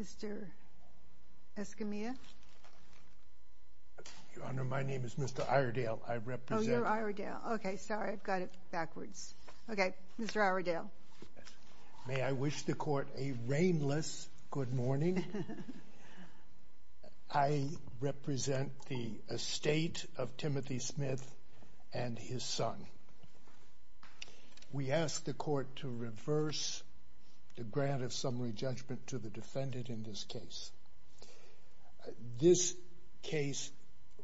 Mr. Escamilla, Your Honor, my name is Mr. Iredale. I represent... Oh, you're Iredale. Okay, sorry, I've got it backwards. Okay, Mr. Iredale. May I wish the court a rainless good morning? I represent the estate of Timothy Smith and his son. We ask the court to reverse the grant of summary judgment to the defendant in this case. This case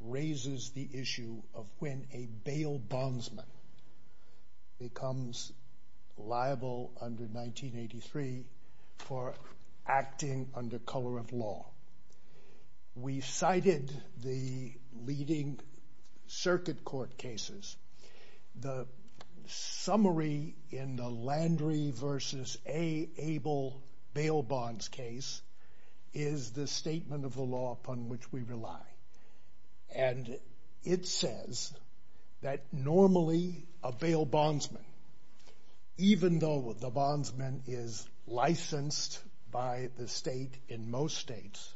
raises the issue of when a bail bondsman becomes liable under 1983 for acting under color of law. We cited the leading circuit court cases. The summary in the Landry v. Able bail bonds case is the statement of the law upon which we rely. And it says that normally a bail bondsman, even though the bondsman is licensed by the state in most states,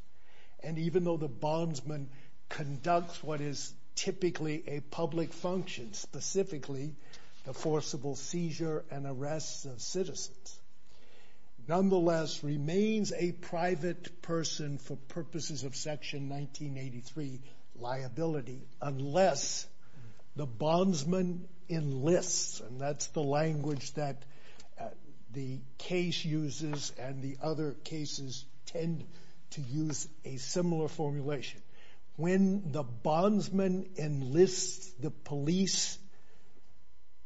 and even though the bondsman conducts what is typically a public function, specifically the forcible seizure and arrest of citizens, nonetheless remains a private person for purposes of Section 1983 liability unless the bondsman enlists, and that's the language that the case uses and the other cases tend to use a similar formulation. When the bondsman enlists the police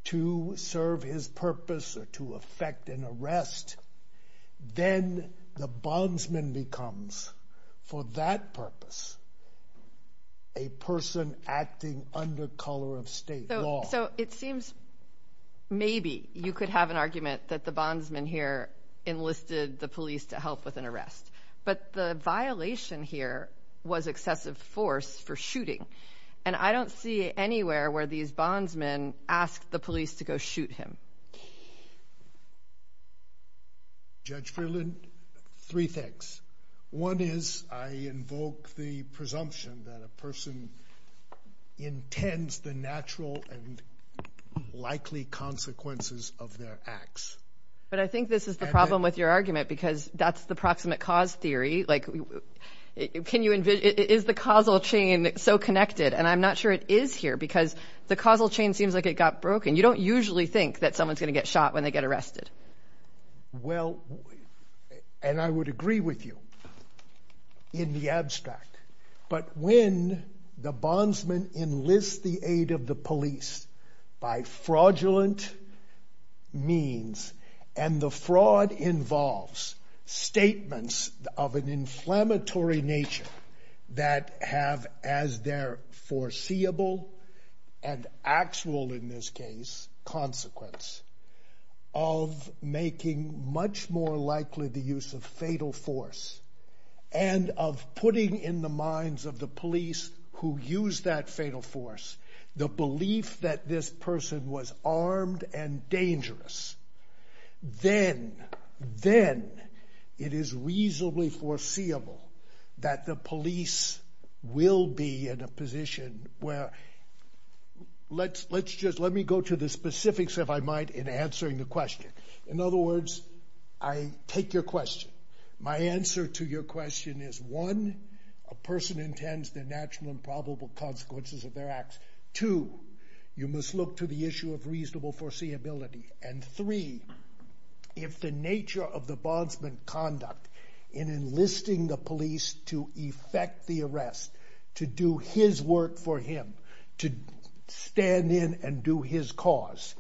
to serve his purpose or to effect an arrest, then the bondsman becomes for that purpose a person acting under color of state law. So it seems maybe you could have an argument that the bondsman here enlisted the police to help with an arrest, but the violation here was excessive force for shooting. And I don't see anywhere where these bondsmen asked the police to go shoot him. Judge Freeland, three things. One is I invoke the presumption that a person intends the natural and likely consequences of their acts. But I think this is the problem with your argument because that's the proximate cause theory. Is the causal chain so connected? And I'm not sure it is here because the causal chain seems like it got broken. You don't usually think that someone's going to get shot when they get arrested. Well, and I would agree with you in the abstract. But when the bondsman enlists the aid of the police by fraudulent means, and the fraud involves statements of an inflammatory nature that have as their foreseeable and actual in this case consequence of making much more likely the use of fatal force and of putting in the minds of the police who use that fatal force the belief that this person was armed and dangerous, then it is reasonably foreseeable that the police will be in a position where... Let me go to the specifics, if I might, in answering the question. In other words, I take your question. My answer to your question is one, a person intends the natural and probable consequences of their acts. Two, you must look to the issue of reasonable foreseeability. And three, if the nature of the bondsman conduct in enlisting the police to effect the arrest, to do his work for him, to stand in and do his cause,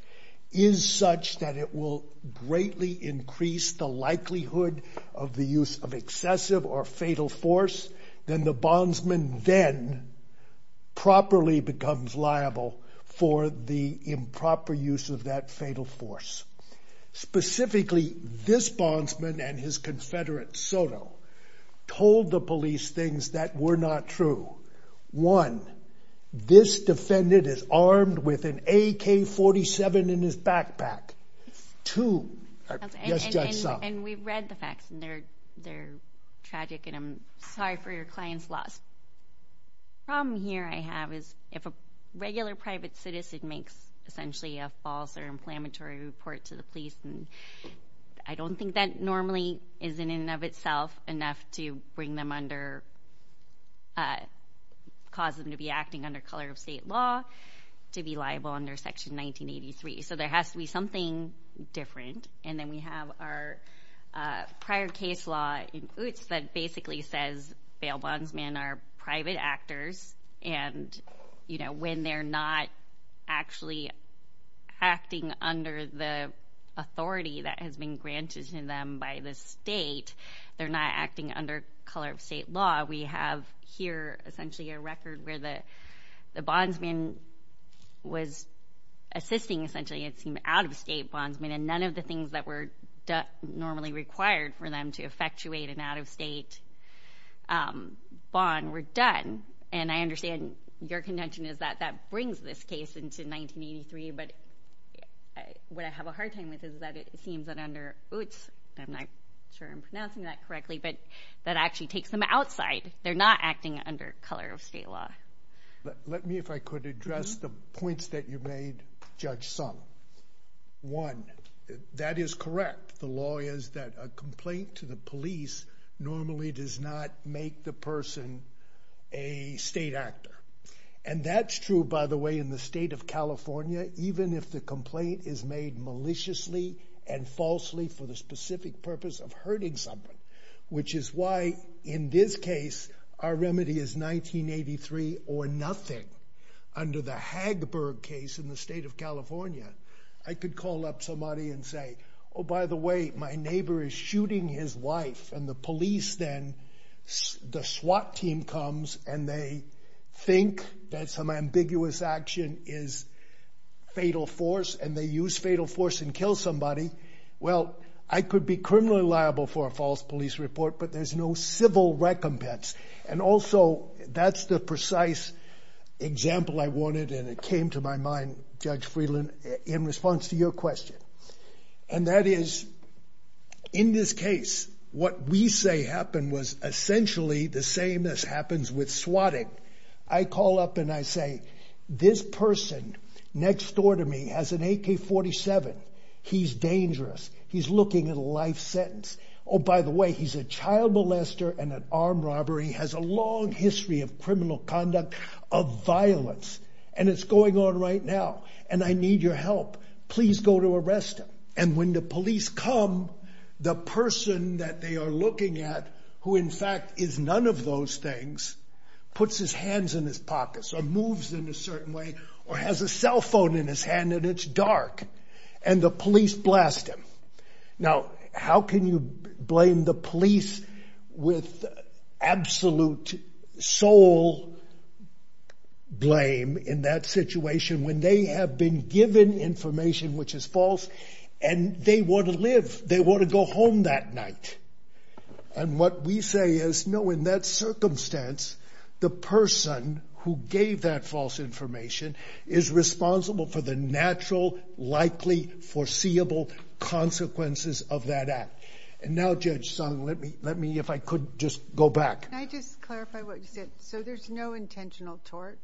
is such that it will greatly increase the likelihood of the use of excessive or fatal force, then the bondsman then properly becomes liable for the improper use of that fatal force. Specifically, this bondsman and his confederate, Soto, told the police things that were not true. One, this defendant is armed with an AK-47 in his backpack. Two, yes, Judge Sum. And we've read the facts, and they're tragic, and I'm sorry for your client's loss. The problem here I have is if a regular private citizen makes essentially a false or inflammatory report to the police, I don't think that normally is in and of itself enough to bring them under, cause them to be acting under color of state law to be liable under Section 1983. So there has to be something different. And then we have our prior case law in Utes that basically says bail bondsmen are private actors, and when they're not actually acting under the authority that has been granted to them by the state, they're not acting under color of state law. We have here essentially a record where the bondsman was assisting essentially an out-of-state bondsman, and none of the things that were normally required for them to effectuate an out-of-state bond were done. And I understand your contention is that that brings this case into 1983, but what I have a hard time with is that it seems that under Utes, I'm not sure I'm pronouncing that correctly, but that actually takes them outside. They're not acting under color of state law. Let me, if I could, address the points that you made, Judge Sum. One, that is correct. The law is that a complaint to the police normally does not make the person a state actor. And that's true, by the way, in the state of California, even if the complaint is made maliciously and falsely for the specific purpose of hurting someone, which is why in this case our remedy is 1983 or nothing. Under the Hagberg case in the state of California, I could call up somebody and say, oh, by the way, my neighbor is shooting his wife, and the police then, the SWAT team comes, and they think that some ambiguous action is fatal force, and they use fatal force and kill somebody. Well, I could be criminally liable for a false police report, but there's no civil recompense. And also, that's the precise example I wanted, and it came to my mind, Judge Friedland, in response to your question. And that is, in this case, what we say happened was essentially the same as happens with SWATing. I call up and I say, this person next door to me has an AK-47. He's dangerous. He's looking at a life sentence. Oh, by the way, he's a child molester and an armed robber. He has a long history of criminal conduct, of violence, and it's going on right now, and I need your help. Please go to arrest him. And when the police come, the person that they are looking at, who in fact is none of those things, puts his hands in his pockets, or moves in a certain way, or has a cell phone in his hand, and it's dark. And the police blast him. Now, how can you blame the police with absolute soul blame in that situation when they have been given information which is false, and they want to live. They want to go home that night. And what we say is, no, in that circumstance, the person who gave that false information is responsible for the natural, likely, foreseeable consequences of that act. And now, Judge Sung, let me, if I could, just go back. Can I just clarify what you said? So there's no intentional tort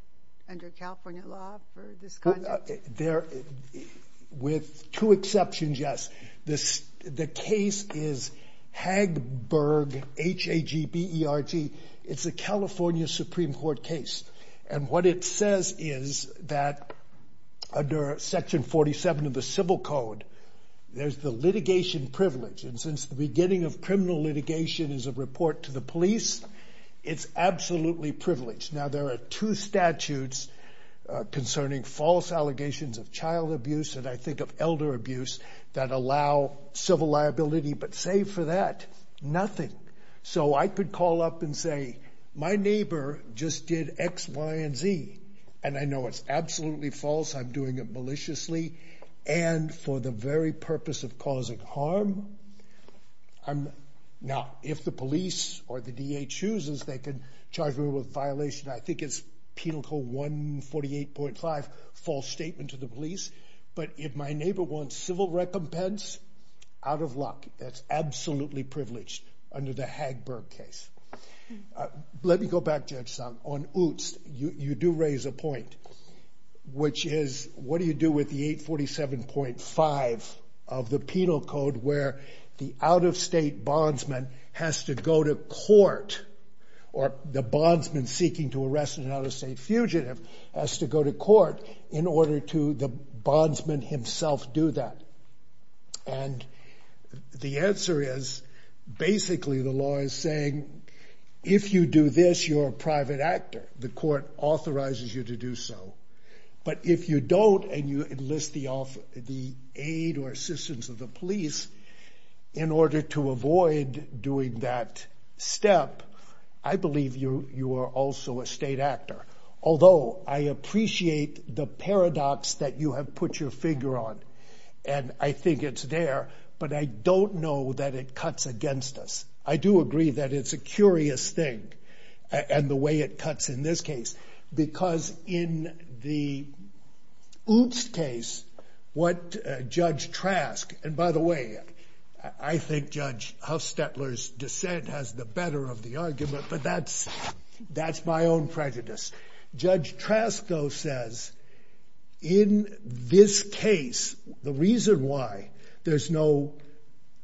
under California law for this conduct? There, with two exceptions, yes. The case is Hagberg, H-A-G-B-E-R-G. It's a California Supreme Court case. And what it says is that under Section 47 of the Civil Code, there's the litigation privilege. And since the beginning of criminal litigation is a report to the police, it's absolutely privileged. Now, there are two statutes concerning false allegations of child abuse, and I think of elder abuse, that allow civil liability. But save for that, nothing. So I could call up and say, my neighbor just did X, Y, and Z. And I know it's absolutely false. I'm doing it maliciously. And for the very purpose of causing harm, now, if the police or the DA chooses, they can charge me with a violation. I think it's Penal Code 148.5, false statement to the police. But if my neighbor wants civil recompense, out of luck. That's absolutely privileged under the Hagberg case. Let me go back, Judge Sung. You do raise a point. Which is, what do you do with the 847.5 of the Penal Code, where the out-of-state bondsman has to go to court, or the bondsman seeking to arrest an out-of-state fugitive has to go to court, in order to the bondsman himself do that? And the answer is, basically, the law is saying, if you do this, you're a private actor. The court authorizes you to do so. But if you don't, and you enlist the aid or assistance of the police, in order to avoid doing that step, I believe you are also a state actor. Although, I appreciate the paradox that you have put your finger on. And I think it's there. But I don't know that it cuts against us. I do agree that it's a curious thing, and the way it cuts in this case. Because in the Oobst case, what Judge Trask, and by the way, I think Judge Huffstetler's dissent has the better of the argument, but that's my own prejudice. Judge Trask, though, says, in this case, the reason why there's no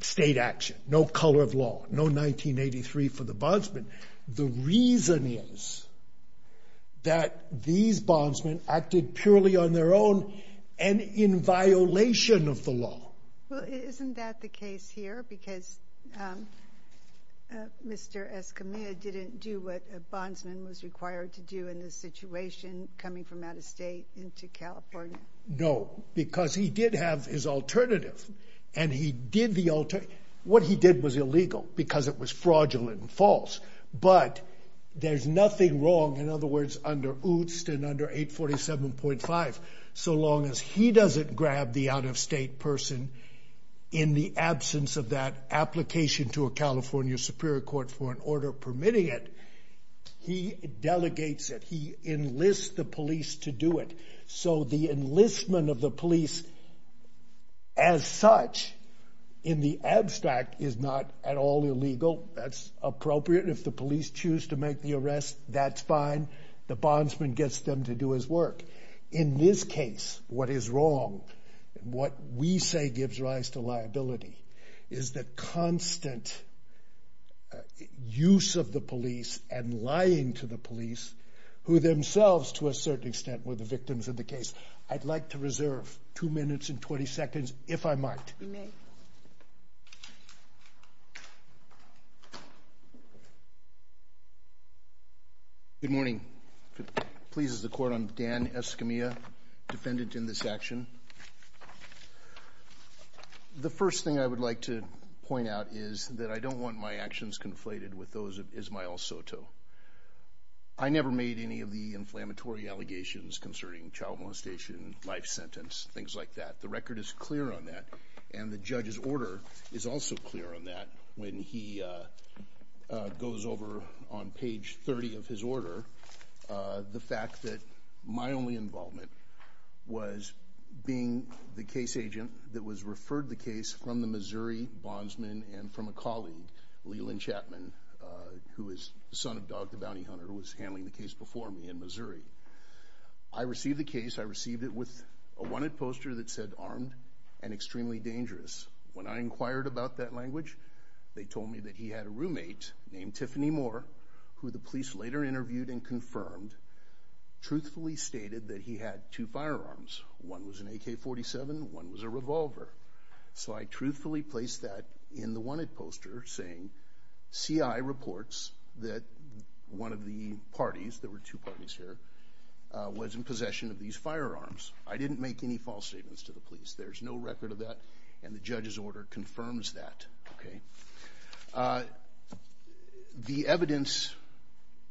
state action, no color of law, no 1983 for the bondsman, the reason is that these bondsmen acted purely on their own, and in violation of the law. Well, isn't that the case here? Because Mr. Escamilla didn't do what a bondsman was required to do in this situation, coming from out of state into California. No, because he did have his alternative. And he did the alternative. What he did was illegal, because it was fraudulent and false. But there's nothing wrong, in other words, under Oobst and under 847.5, so long as he doesn't grab the out-of-state person in the absence of that application to a California Superior Court for an order permitting it. He delegates it. He enlists the police to do it. So the enlistment of the police, as such, in the abstract, is not at all illegal. That's appropriate. If the police choose to make the arrest, that's fine. The bondsman gets them to do his work. In this case, what is wrong, what we say gives rise to liability, is the constant use of the police and lying to the police, who themselves, to a certain extent, were the victims of the case. I'd like to reserve 2 minutes and 20 seconds, if I might. You may. Good morning. If it pleases the Court, I'm Dan Escamilla, defendant in this action. The first thing I would like to point out is that I don't want my actions conflated with those of Ismael Soto. I never made any of the inflammatory allegations concerning child molestation, life sentence, things like that. The record is clear on that, and the judge's order is also clear on that. When he goes over on page 30 of his order, the fact that my only involvement was being the case agent that was referred the case from the Missouri bondsman and from a colleague, Leland Chapman, who is the son of Dog the Bounty Hunter, who was handling the case before me in Missouri, I received the case, I received it with a wanted poster that said armed and extremely dangerous. When I inquired about that language, they told me that he had a roommate named Tiffany Moore, who the police later interviewed and confirmed, truthfully stated that he had two firearms. One was an AK-47, one was a revolver. So I truthfully placed that in the wanted poster, saying CI reports that one of the parties, there were two parties here, was in possession of these firearms. I didn't make any false statements to the police. There's no record of that, and the judge's order confirms that. The evidence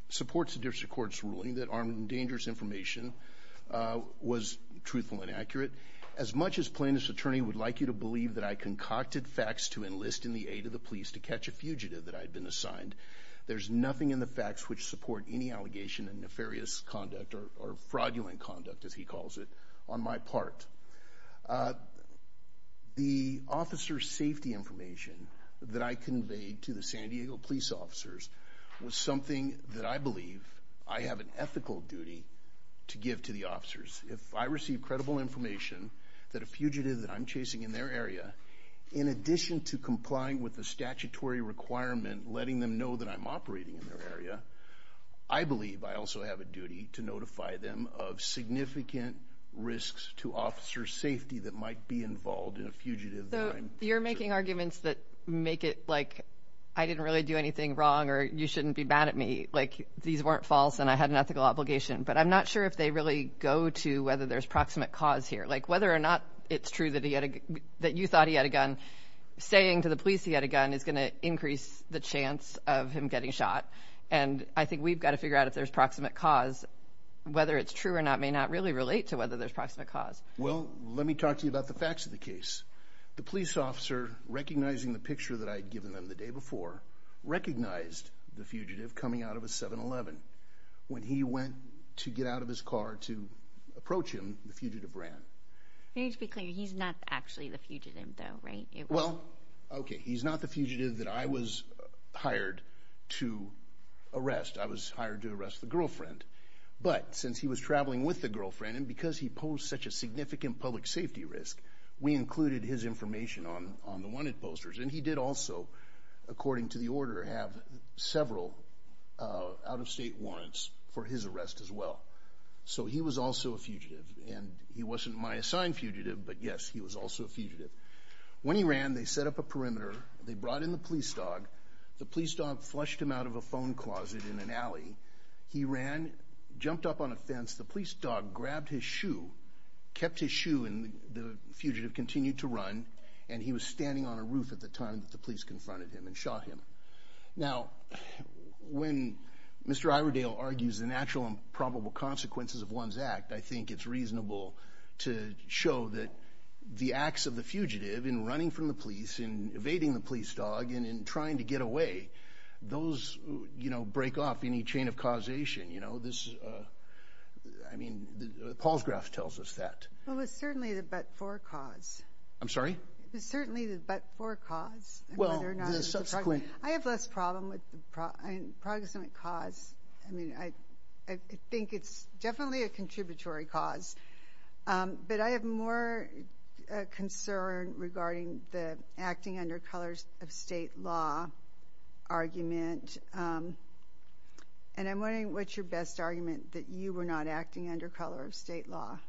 supports the district court's ruling that armed and dangerous information was truthful and accurate. As much as Plaintiff's attorney would like you to believe that I concocted facts to enlist in the aid of the police to catch a fugitive that I had been assigned, there's nothing in the facts which support any allegation of nefarious conduct or fraudulent conduct, as he calls it, on my part. The officer's safety information that I conveyed to the San Diego police officers was something that I believe I have an ethical duty to give to the officers. If I receive credible information that a fugitive that I'm chasing in their area, in addition to complying with the statutory requirement letting them know that I'm operating in their area, I believe I also have a duty to notify them of significant risks to officer's safety that might be involved in a fugitive that I'm chasing. So you're making arguments that make it like I didn't really do anything wrong or you shouldn't be mad at me, like these weren't false and I had an ethical obligation. But I'm not sure if they really go to whether there's proximate cause here, like whether or not it's true that you thought he had a gun, saying to the police he had a gun is going to increase the chance of him getting shot. And I think we've got to figure out if there's proximate cause. Whether it's true or not may not really relate to whether there's proximate cause. Well, let me talk to you about the facts of the case. The police officer, recognizing the picture that I had given them the day before, recognized the fugitive coming out of a 7-Eleven. When he went to get out of his car to approach him, the fugitive ran. You need to be clear, he's not actually the fugitive though, right? Well, okay, he's not the fugitive that I was hired to arrest. I was hired to arrest the girlfriend. But since he was traveling with the girlfriend, and because he posed such a significant public safety risk, we included his information on the wanted posters. And he did also, according to the order, have several out-of-state warrants for his arrest as well. So he was also a fugitive. And he wasn't my assigned fugitive, but, yes, he was also a fugitive. When he ran, they set up a perimeter. They brought in the police dog. The police dog flushed him out of a phone closet in an alley. He ran, jumped up on a fence. The police dog grabbed his shoe, kept his shoe, and the fugitive continued to run. And he was standing on a roof at the time that the police confronted him and shot him. Now, when Mr. Iredale argues the natural and probable consequences of one's act, I think it's reasonable to show that the acts of the fugitive in running from the police, in evading the police dog, and in trying to get away, those, you know, break off any chain of causation, you know. This, I mean, Paul's graph tells us that. Well, it's certainly the but-for cause. I'm sorry? It's certainly the but-for cause. Well, the subsequent. I have less problem with the proximate cause. I mean, I think it's definitely a contributory cause. But I have more concern regarding the acting under colors of state law argument. And I'm wondering what's your best argument that you were not acting under color of state law.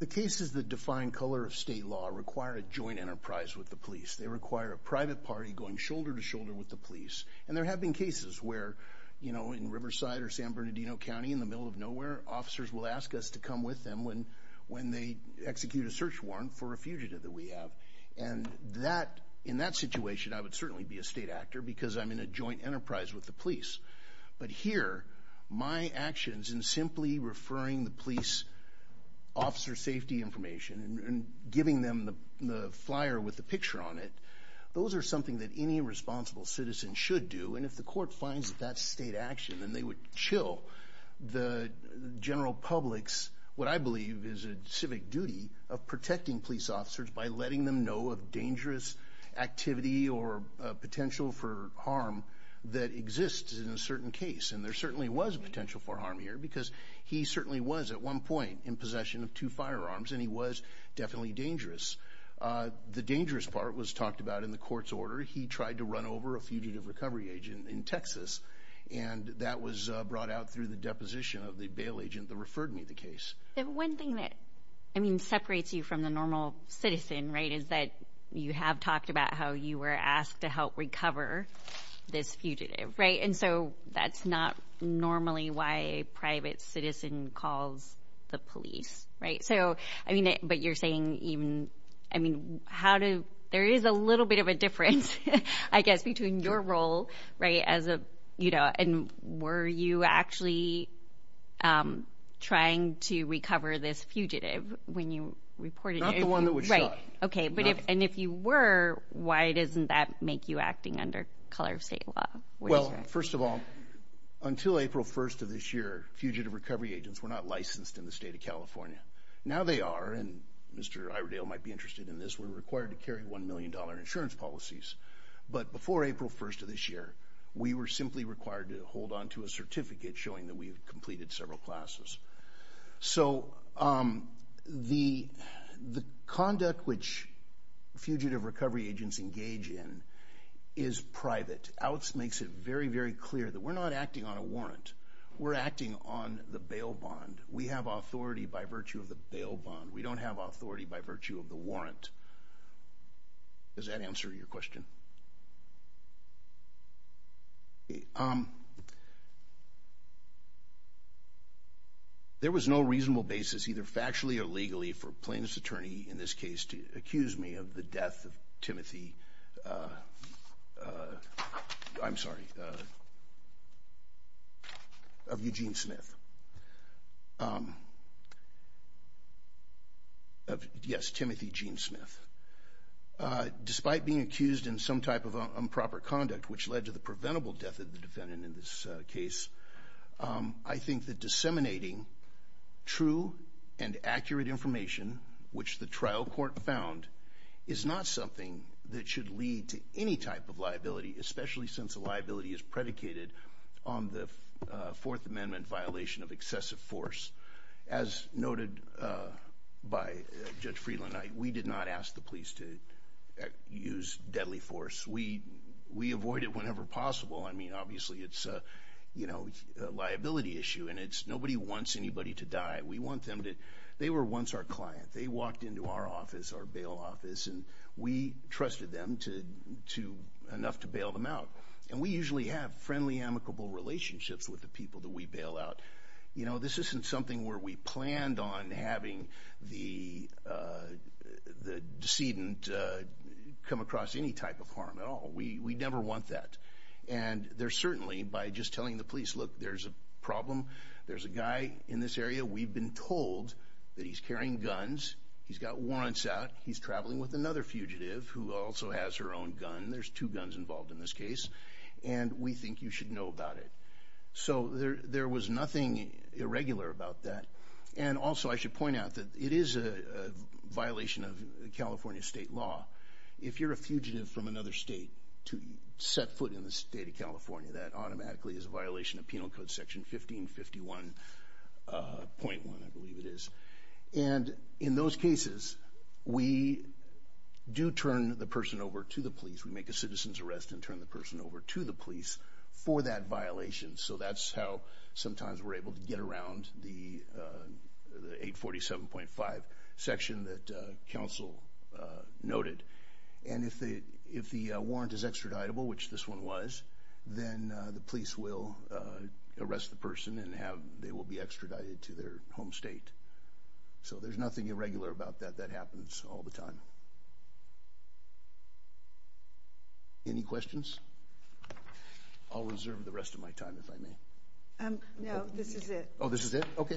The cases that define color of state law require a joint enterprise with the police. They require a private party going shoulder to shoulder with the police. And there have been cases where, you know, in Riverside or San Bernardino County, in the middle of nowhere, officers will ask us to come with them when they execute a search warrant for a fugitive that we have. And in that situation, I would certainly be a state actor because I'm in a joint enterprise with the police. But here, my actions in simply referring the police officer safety information and giving them the flyer with the picture on it, those are something that any responsible citizen should do. And if the court finds that that's state action, then they would chill the general public's what I believe is a civic duty of protecting police officers by letting them know of dangerous activity or potential for harm that exists in a certain case. And there certainly was potential for harm here because he certainly was at one point in possession of two firearms, and he was definitely dangerous. The dangerous part was talked about in the court's order. He tried to run over a fugitive recovery agent in Texas, and that was brought out through the deposition of the bail agent that referred me the case. One thing that, I mean, separates you from the normal citizen, right, is that you have talked about how you were asked to help recover this fugitive, right? And so that's not normally why a private citizen calls the police, right? So, I mean, but you're saying even, I mean, how do, there is a little bit of a difference, I guess, between your role, right, as a, you know, and were you actually trying to recover this fugitive when you reported it? Not the one that was shot. Right, okay, but if, and if you were, why doesn't that make you acting under color of state law? Well, first of all, until April 1st of this year, fugitive recovery agents were not licensed in the state of California. Now they are, and Mr. Iredale might be interested in this, we're required to carry $1 million insurance policies. But before April 1st of this year, we were simply required to hold onto a certificate showing that we had completed several classes. So the conduct which fugitive recovery agents engage in is private. OUTS makes it very, very clear that we're not acting on a warrant. We're acting on the bail bond. We have authority by virtue of the bail bond. We don't have authority by virtue of the warrant. Does that answer your question? There was no reasonable basis, either factually or legally, for a plaintiff's attorney in this case to accuse me of the death of Timothy, I'm sorry, of Eugene Smith. Yes, Timothy Gene Smith. Despite being accused in some type of improper conduct, which led to the preventable death of the defendant in this case, I think that disseminating true and accurate information, which the trial court found, is not something that should lead to any type of liability, especially since a liability is predicated on the Fourth Amendment violation of excessive force. As noted by Judge Friedland, we did not ask the police to use deadly force. We avoided whenever possible. I mean, obviously it's a liability issue, and nobody wants anybody to die. They were once our client. They walked into our office, our bail office, and we trusted them enough to bail them out. And we usually have friendly, amicable relationships with the people that we bail out. This isn't something where we planned on having the decedent come across any type of harm at all. We never want that. And there's certainly, by just telling the police, look, there's a problem. There's a guy in this area. We've been told that he's carrying guns. He's got warrants out. He's traveling with another fugitive who also has her own gun. There's two guns involved in this case, and we think you should know about it. So there was nothing irregular about that. And also I should point out that it is a violation of California state law. If you're a fugitive from another state to set foot in the state of California, that automatically is a violation of Penal Code Section 1551.1, I believe it is. And in those cases, we do turn the person over to the police. We make a citizen's arrest and turn the person over to the police for that violation. So that's how sometimes we're able to get around the 847.5 section that counsel noted. And if the warrant is extraditable, which this one was, then the police will arrest the person and they will be extradited to their home state. So there's nothing irregular about that. That happens all the time. Any questions? I'll reserve the rest of my time, if I may. No, this is it. Oh, this is it? Okay.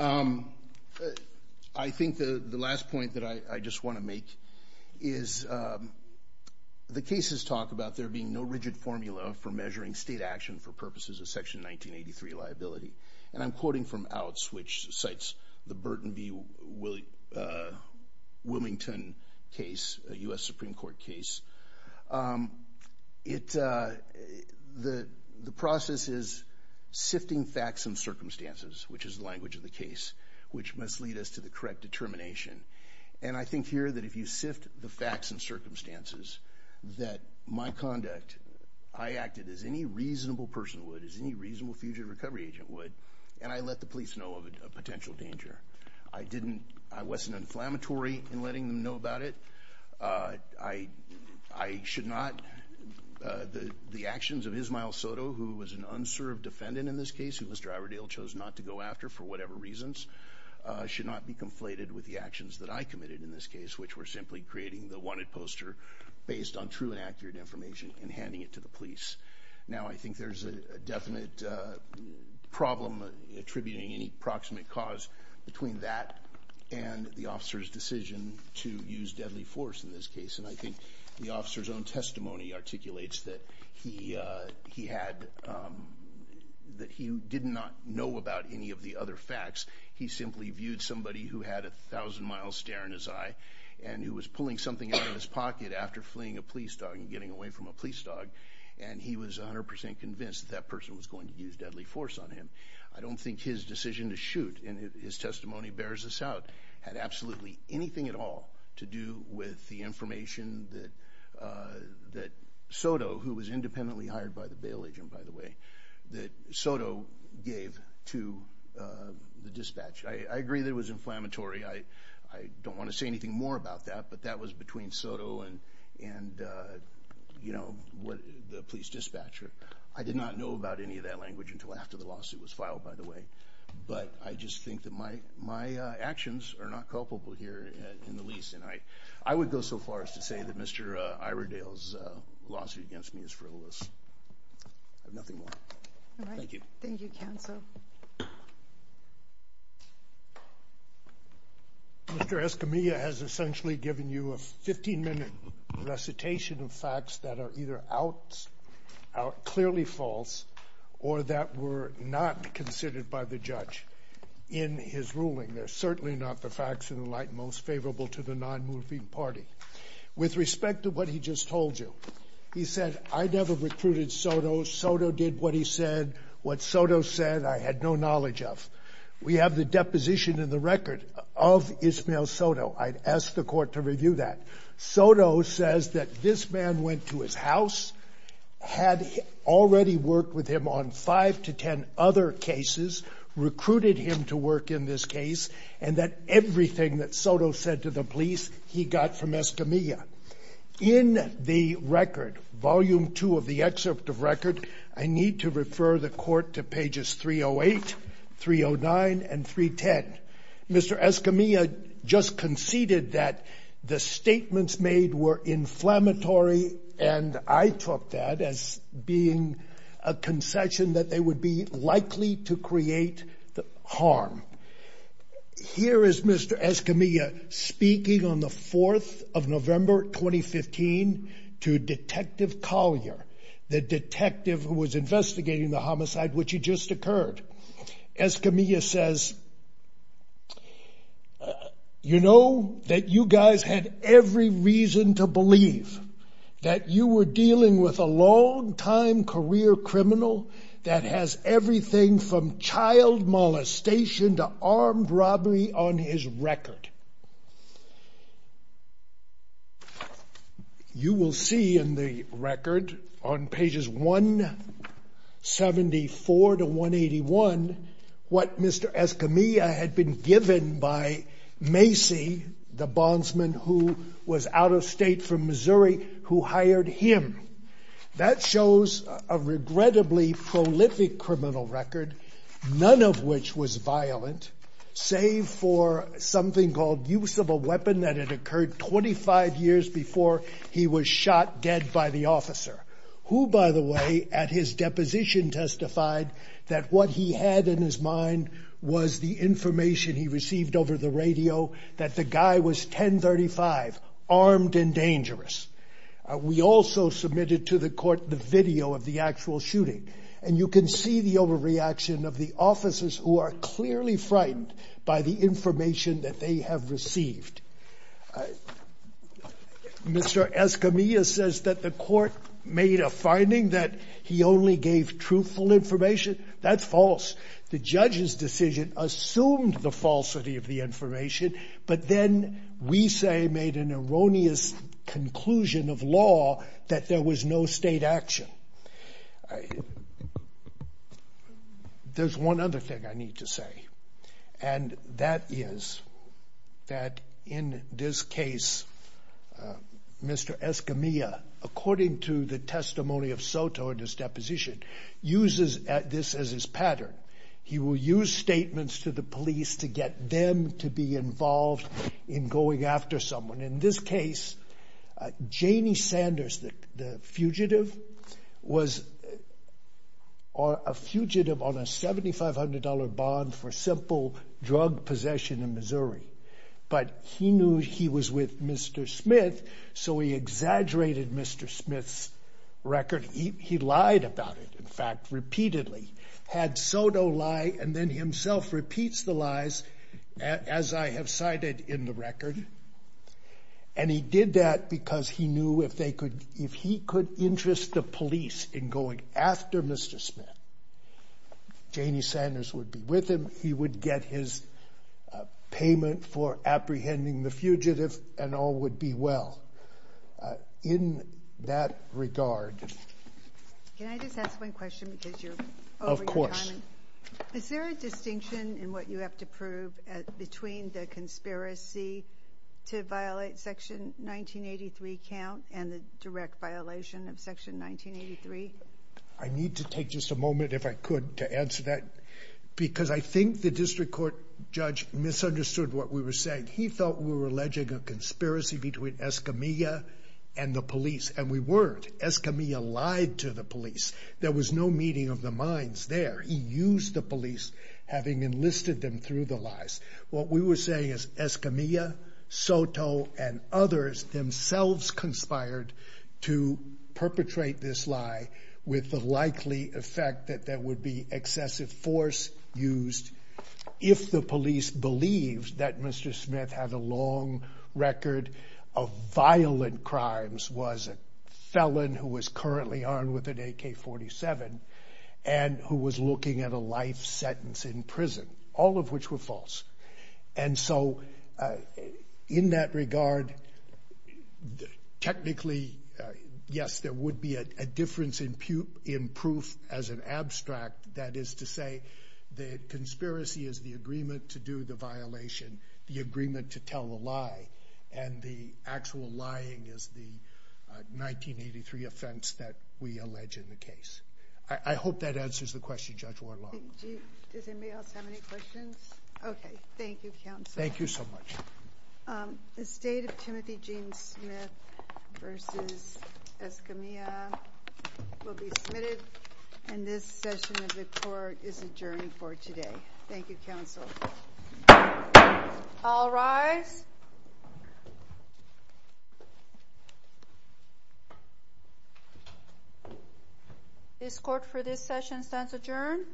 I think the last point that I just want to make is the cases talk about there being no rigid formula for measuring state action for purposes of Section 1983 liability. And I'm quoting from Outs, which cites the Burton v. Wilmington case, a U.S. Supreme Court case. The process is sifting facts and circumstances, which is the language of the case, which must lead us to the correct determination. And I think here that if you sift the facts and circumstances, that my conduct, I acted as any reasonable person would, as any reasonable fugitive recovery agent would, and I let the police know of a potential danger. I wasn't inflammatory in letting them know about it. I should not. The actions of Ismael Soto, who was an unserved defendant in this case, who Mr. Iredale chose not to go after for whatever reasons, should not be conflated with the actions that I committed in this case, which were simply creating the wanted poster based on true and accurate information and handing it to the police. Now, I think there's a definite problem attributing any proximate cause between that and the officer's decision to use deadly force in this case. And I think the officer's own testimony articulates that he did not know about any of the other facts. He simply viewed somebody who had a thousand-mile stare in his eye and who was pulling something out of his pocket after fleeing a police dog and getting away from a police dog, and he was 100% convinced that that person was going to use deadly force on him. I don't think his decision to shoot, and his testimony bears this out, had absolutely anything at all to do with the information that Soto, who was independently hired by the bail agent, by the way, that Soto gave to the dispatcher. I agree that it was inflammatory. I don't want to say anything more about that, but that was between Soto and the police dispatcher. I did not know about any of that language until after the lawsuit was filed, by the way. But I just think that my actions are not culpable here in the least. And I would go so far as to say that Mr. Iredale's lawsuit against me is frivolous. I have nothing more. Thank you. All right. Thank you, counsel. Mr. Escamilla has essentially given you a 15-minute recitation of facts that are either clearly false or that were not considered by the judge in his ruling. They're certainly not the facts in the light most favorable to the non-moving party. With respect to what he just told you, he said, I never recruited Soto. Soto did what he said. What Soto said, I had no knowledge of. We have the deposition in the record of Ismael Soto. I'd ask the court to review that. Soto says that this man went to his house, had already worked with him on five to ten other cases, recruited him to work in this case, and that everything that Soto said to the police, he got from Escamilla. In the record, volume two of the excerpt of record, I need to refer the court to pages 308, 309, and 310. Mr. Escamilla just conceded that the statements made were inflammatory, and I took that as being a concession that they would be likely to create harm. Here is Mr. Escamilla speaking on the 4th of November 2015 to Detective Collier, the detective who was investigating the homicide which had just occurred. Escamilla says, You know that you guys had every reason to believe that you were dealing with a long-time career criminal that has everything from child molestation to armed robbery on his record. You will see in the record on pages 174 to 181 what Mr. Escamilla had been given by Macy, the bondsman who was out of state from Missouri, who hired him. That shows a regrettably prolific criminal record, none of which was violent, save for something called use of a weapon that had occurred 25 years before he was shot dead by the officer, who, by the way, at his deposition testified that what he had in his mind was the information he received over the radio that the guy was 1035, armed and dangerous. We also submitted to the court the video of the actual shooting, and you can see the overreaction of the officers who are clearly frightened by the information that they have received. Mr. Escamilla says that the court made a finding that he only gave truthful information. That's false. The judge's decision assumed the falsity of the information, but then we say made an erroneous conclusion of law that there was no state action. There's one other thing I need to say, and that is that in this case, Mr. Escamilla, according to the testimony of Soto in his deposition, uses this as his pattern. He will use statements to the police to get them to be involved in going after someone. In this case, Janie Sanders, the fugitive, was a fugitive on a $7,500 bond for simple drug possession in Missouri, but he knew he was with Mr. Smith, so he exaggerated Mr. Smith's record. He lied about it, in fact, repeatedly. Had Soto lie and then himself repeats the lies, as I have cited in the record, and he did that because he knew if he could interest the police in going after Mr. Smith, Janie Sanders would be with him, he would get his payment for apprehending the fugitive, and all would be well. In that regard... Can I just ask one question because you're over your time? Of course. Is there a distinction in what you have to prove between the conspiracy to violate Section 1983 count and the direct violation of Section 1983? I need to take just a moment, if I could, to answer that because I think the district court judge misunderstood what we were saying. He thought we were alleging a conspiracy between Escamilla and the police, and we weren't. Escamilla lied to the police. There was no meeting of the minds there. He used the police, having enlisted them through the lies. What we were saying is Escamilla, Soto, and others themselves conspired to perpetrate this lie with the likely effect that there would be excessive force used if the police believed that Mr. Smith had a long record of violent crimes, was a felon who was currently armed with an AK-47, and who was looking at a life sentence in prison, all of which were false. And so in that regard, technically, yes, there would be a difference in proof as an abstract. That is to say, the conspiracy is the agreement to do the violation, the agreement to tell a lie, and the actual lying is the 1983 offense that we allege in the case. I hope that answers the question, Judge Warlock. Does anybody else have any questions? Okay, thank you, Counsel. Thank you so much. The State of Timothy Gene Smith v. Escamilla will be submitted, and this session of the court is adjourned for today. Thank you, Counsel. All rise. This court for this session stands adjourned.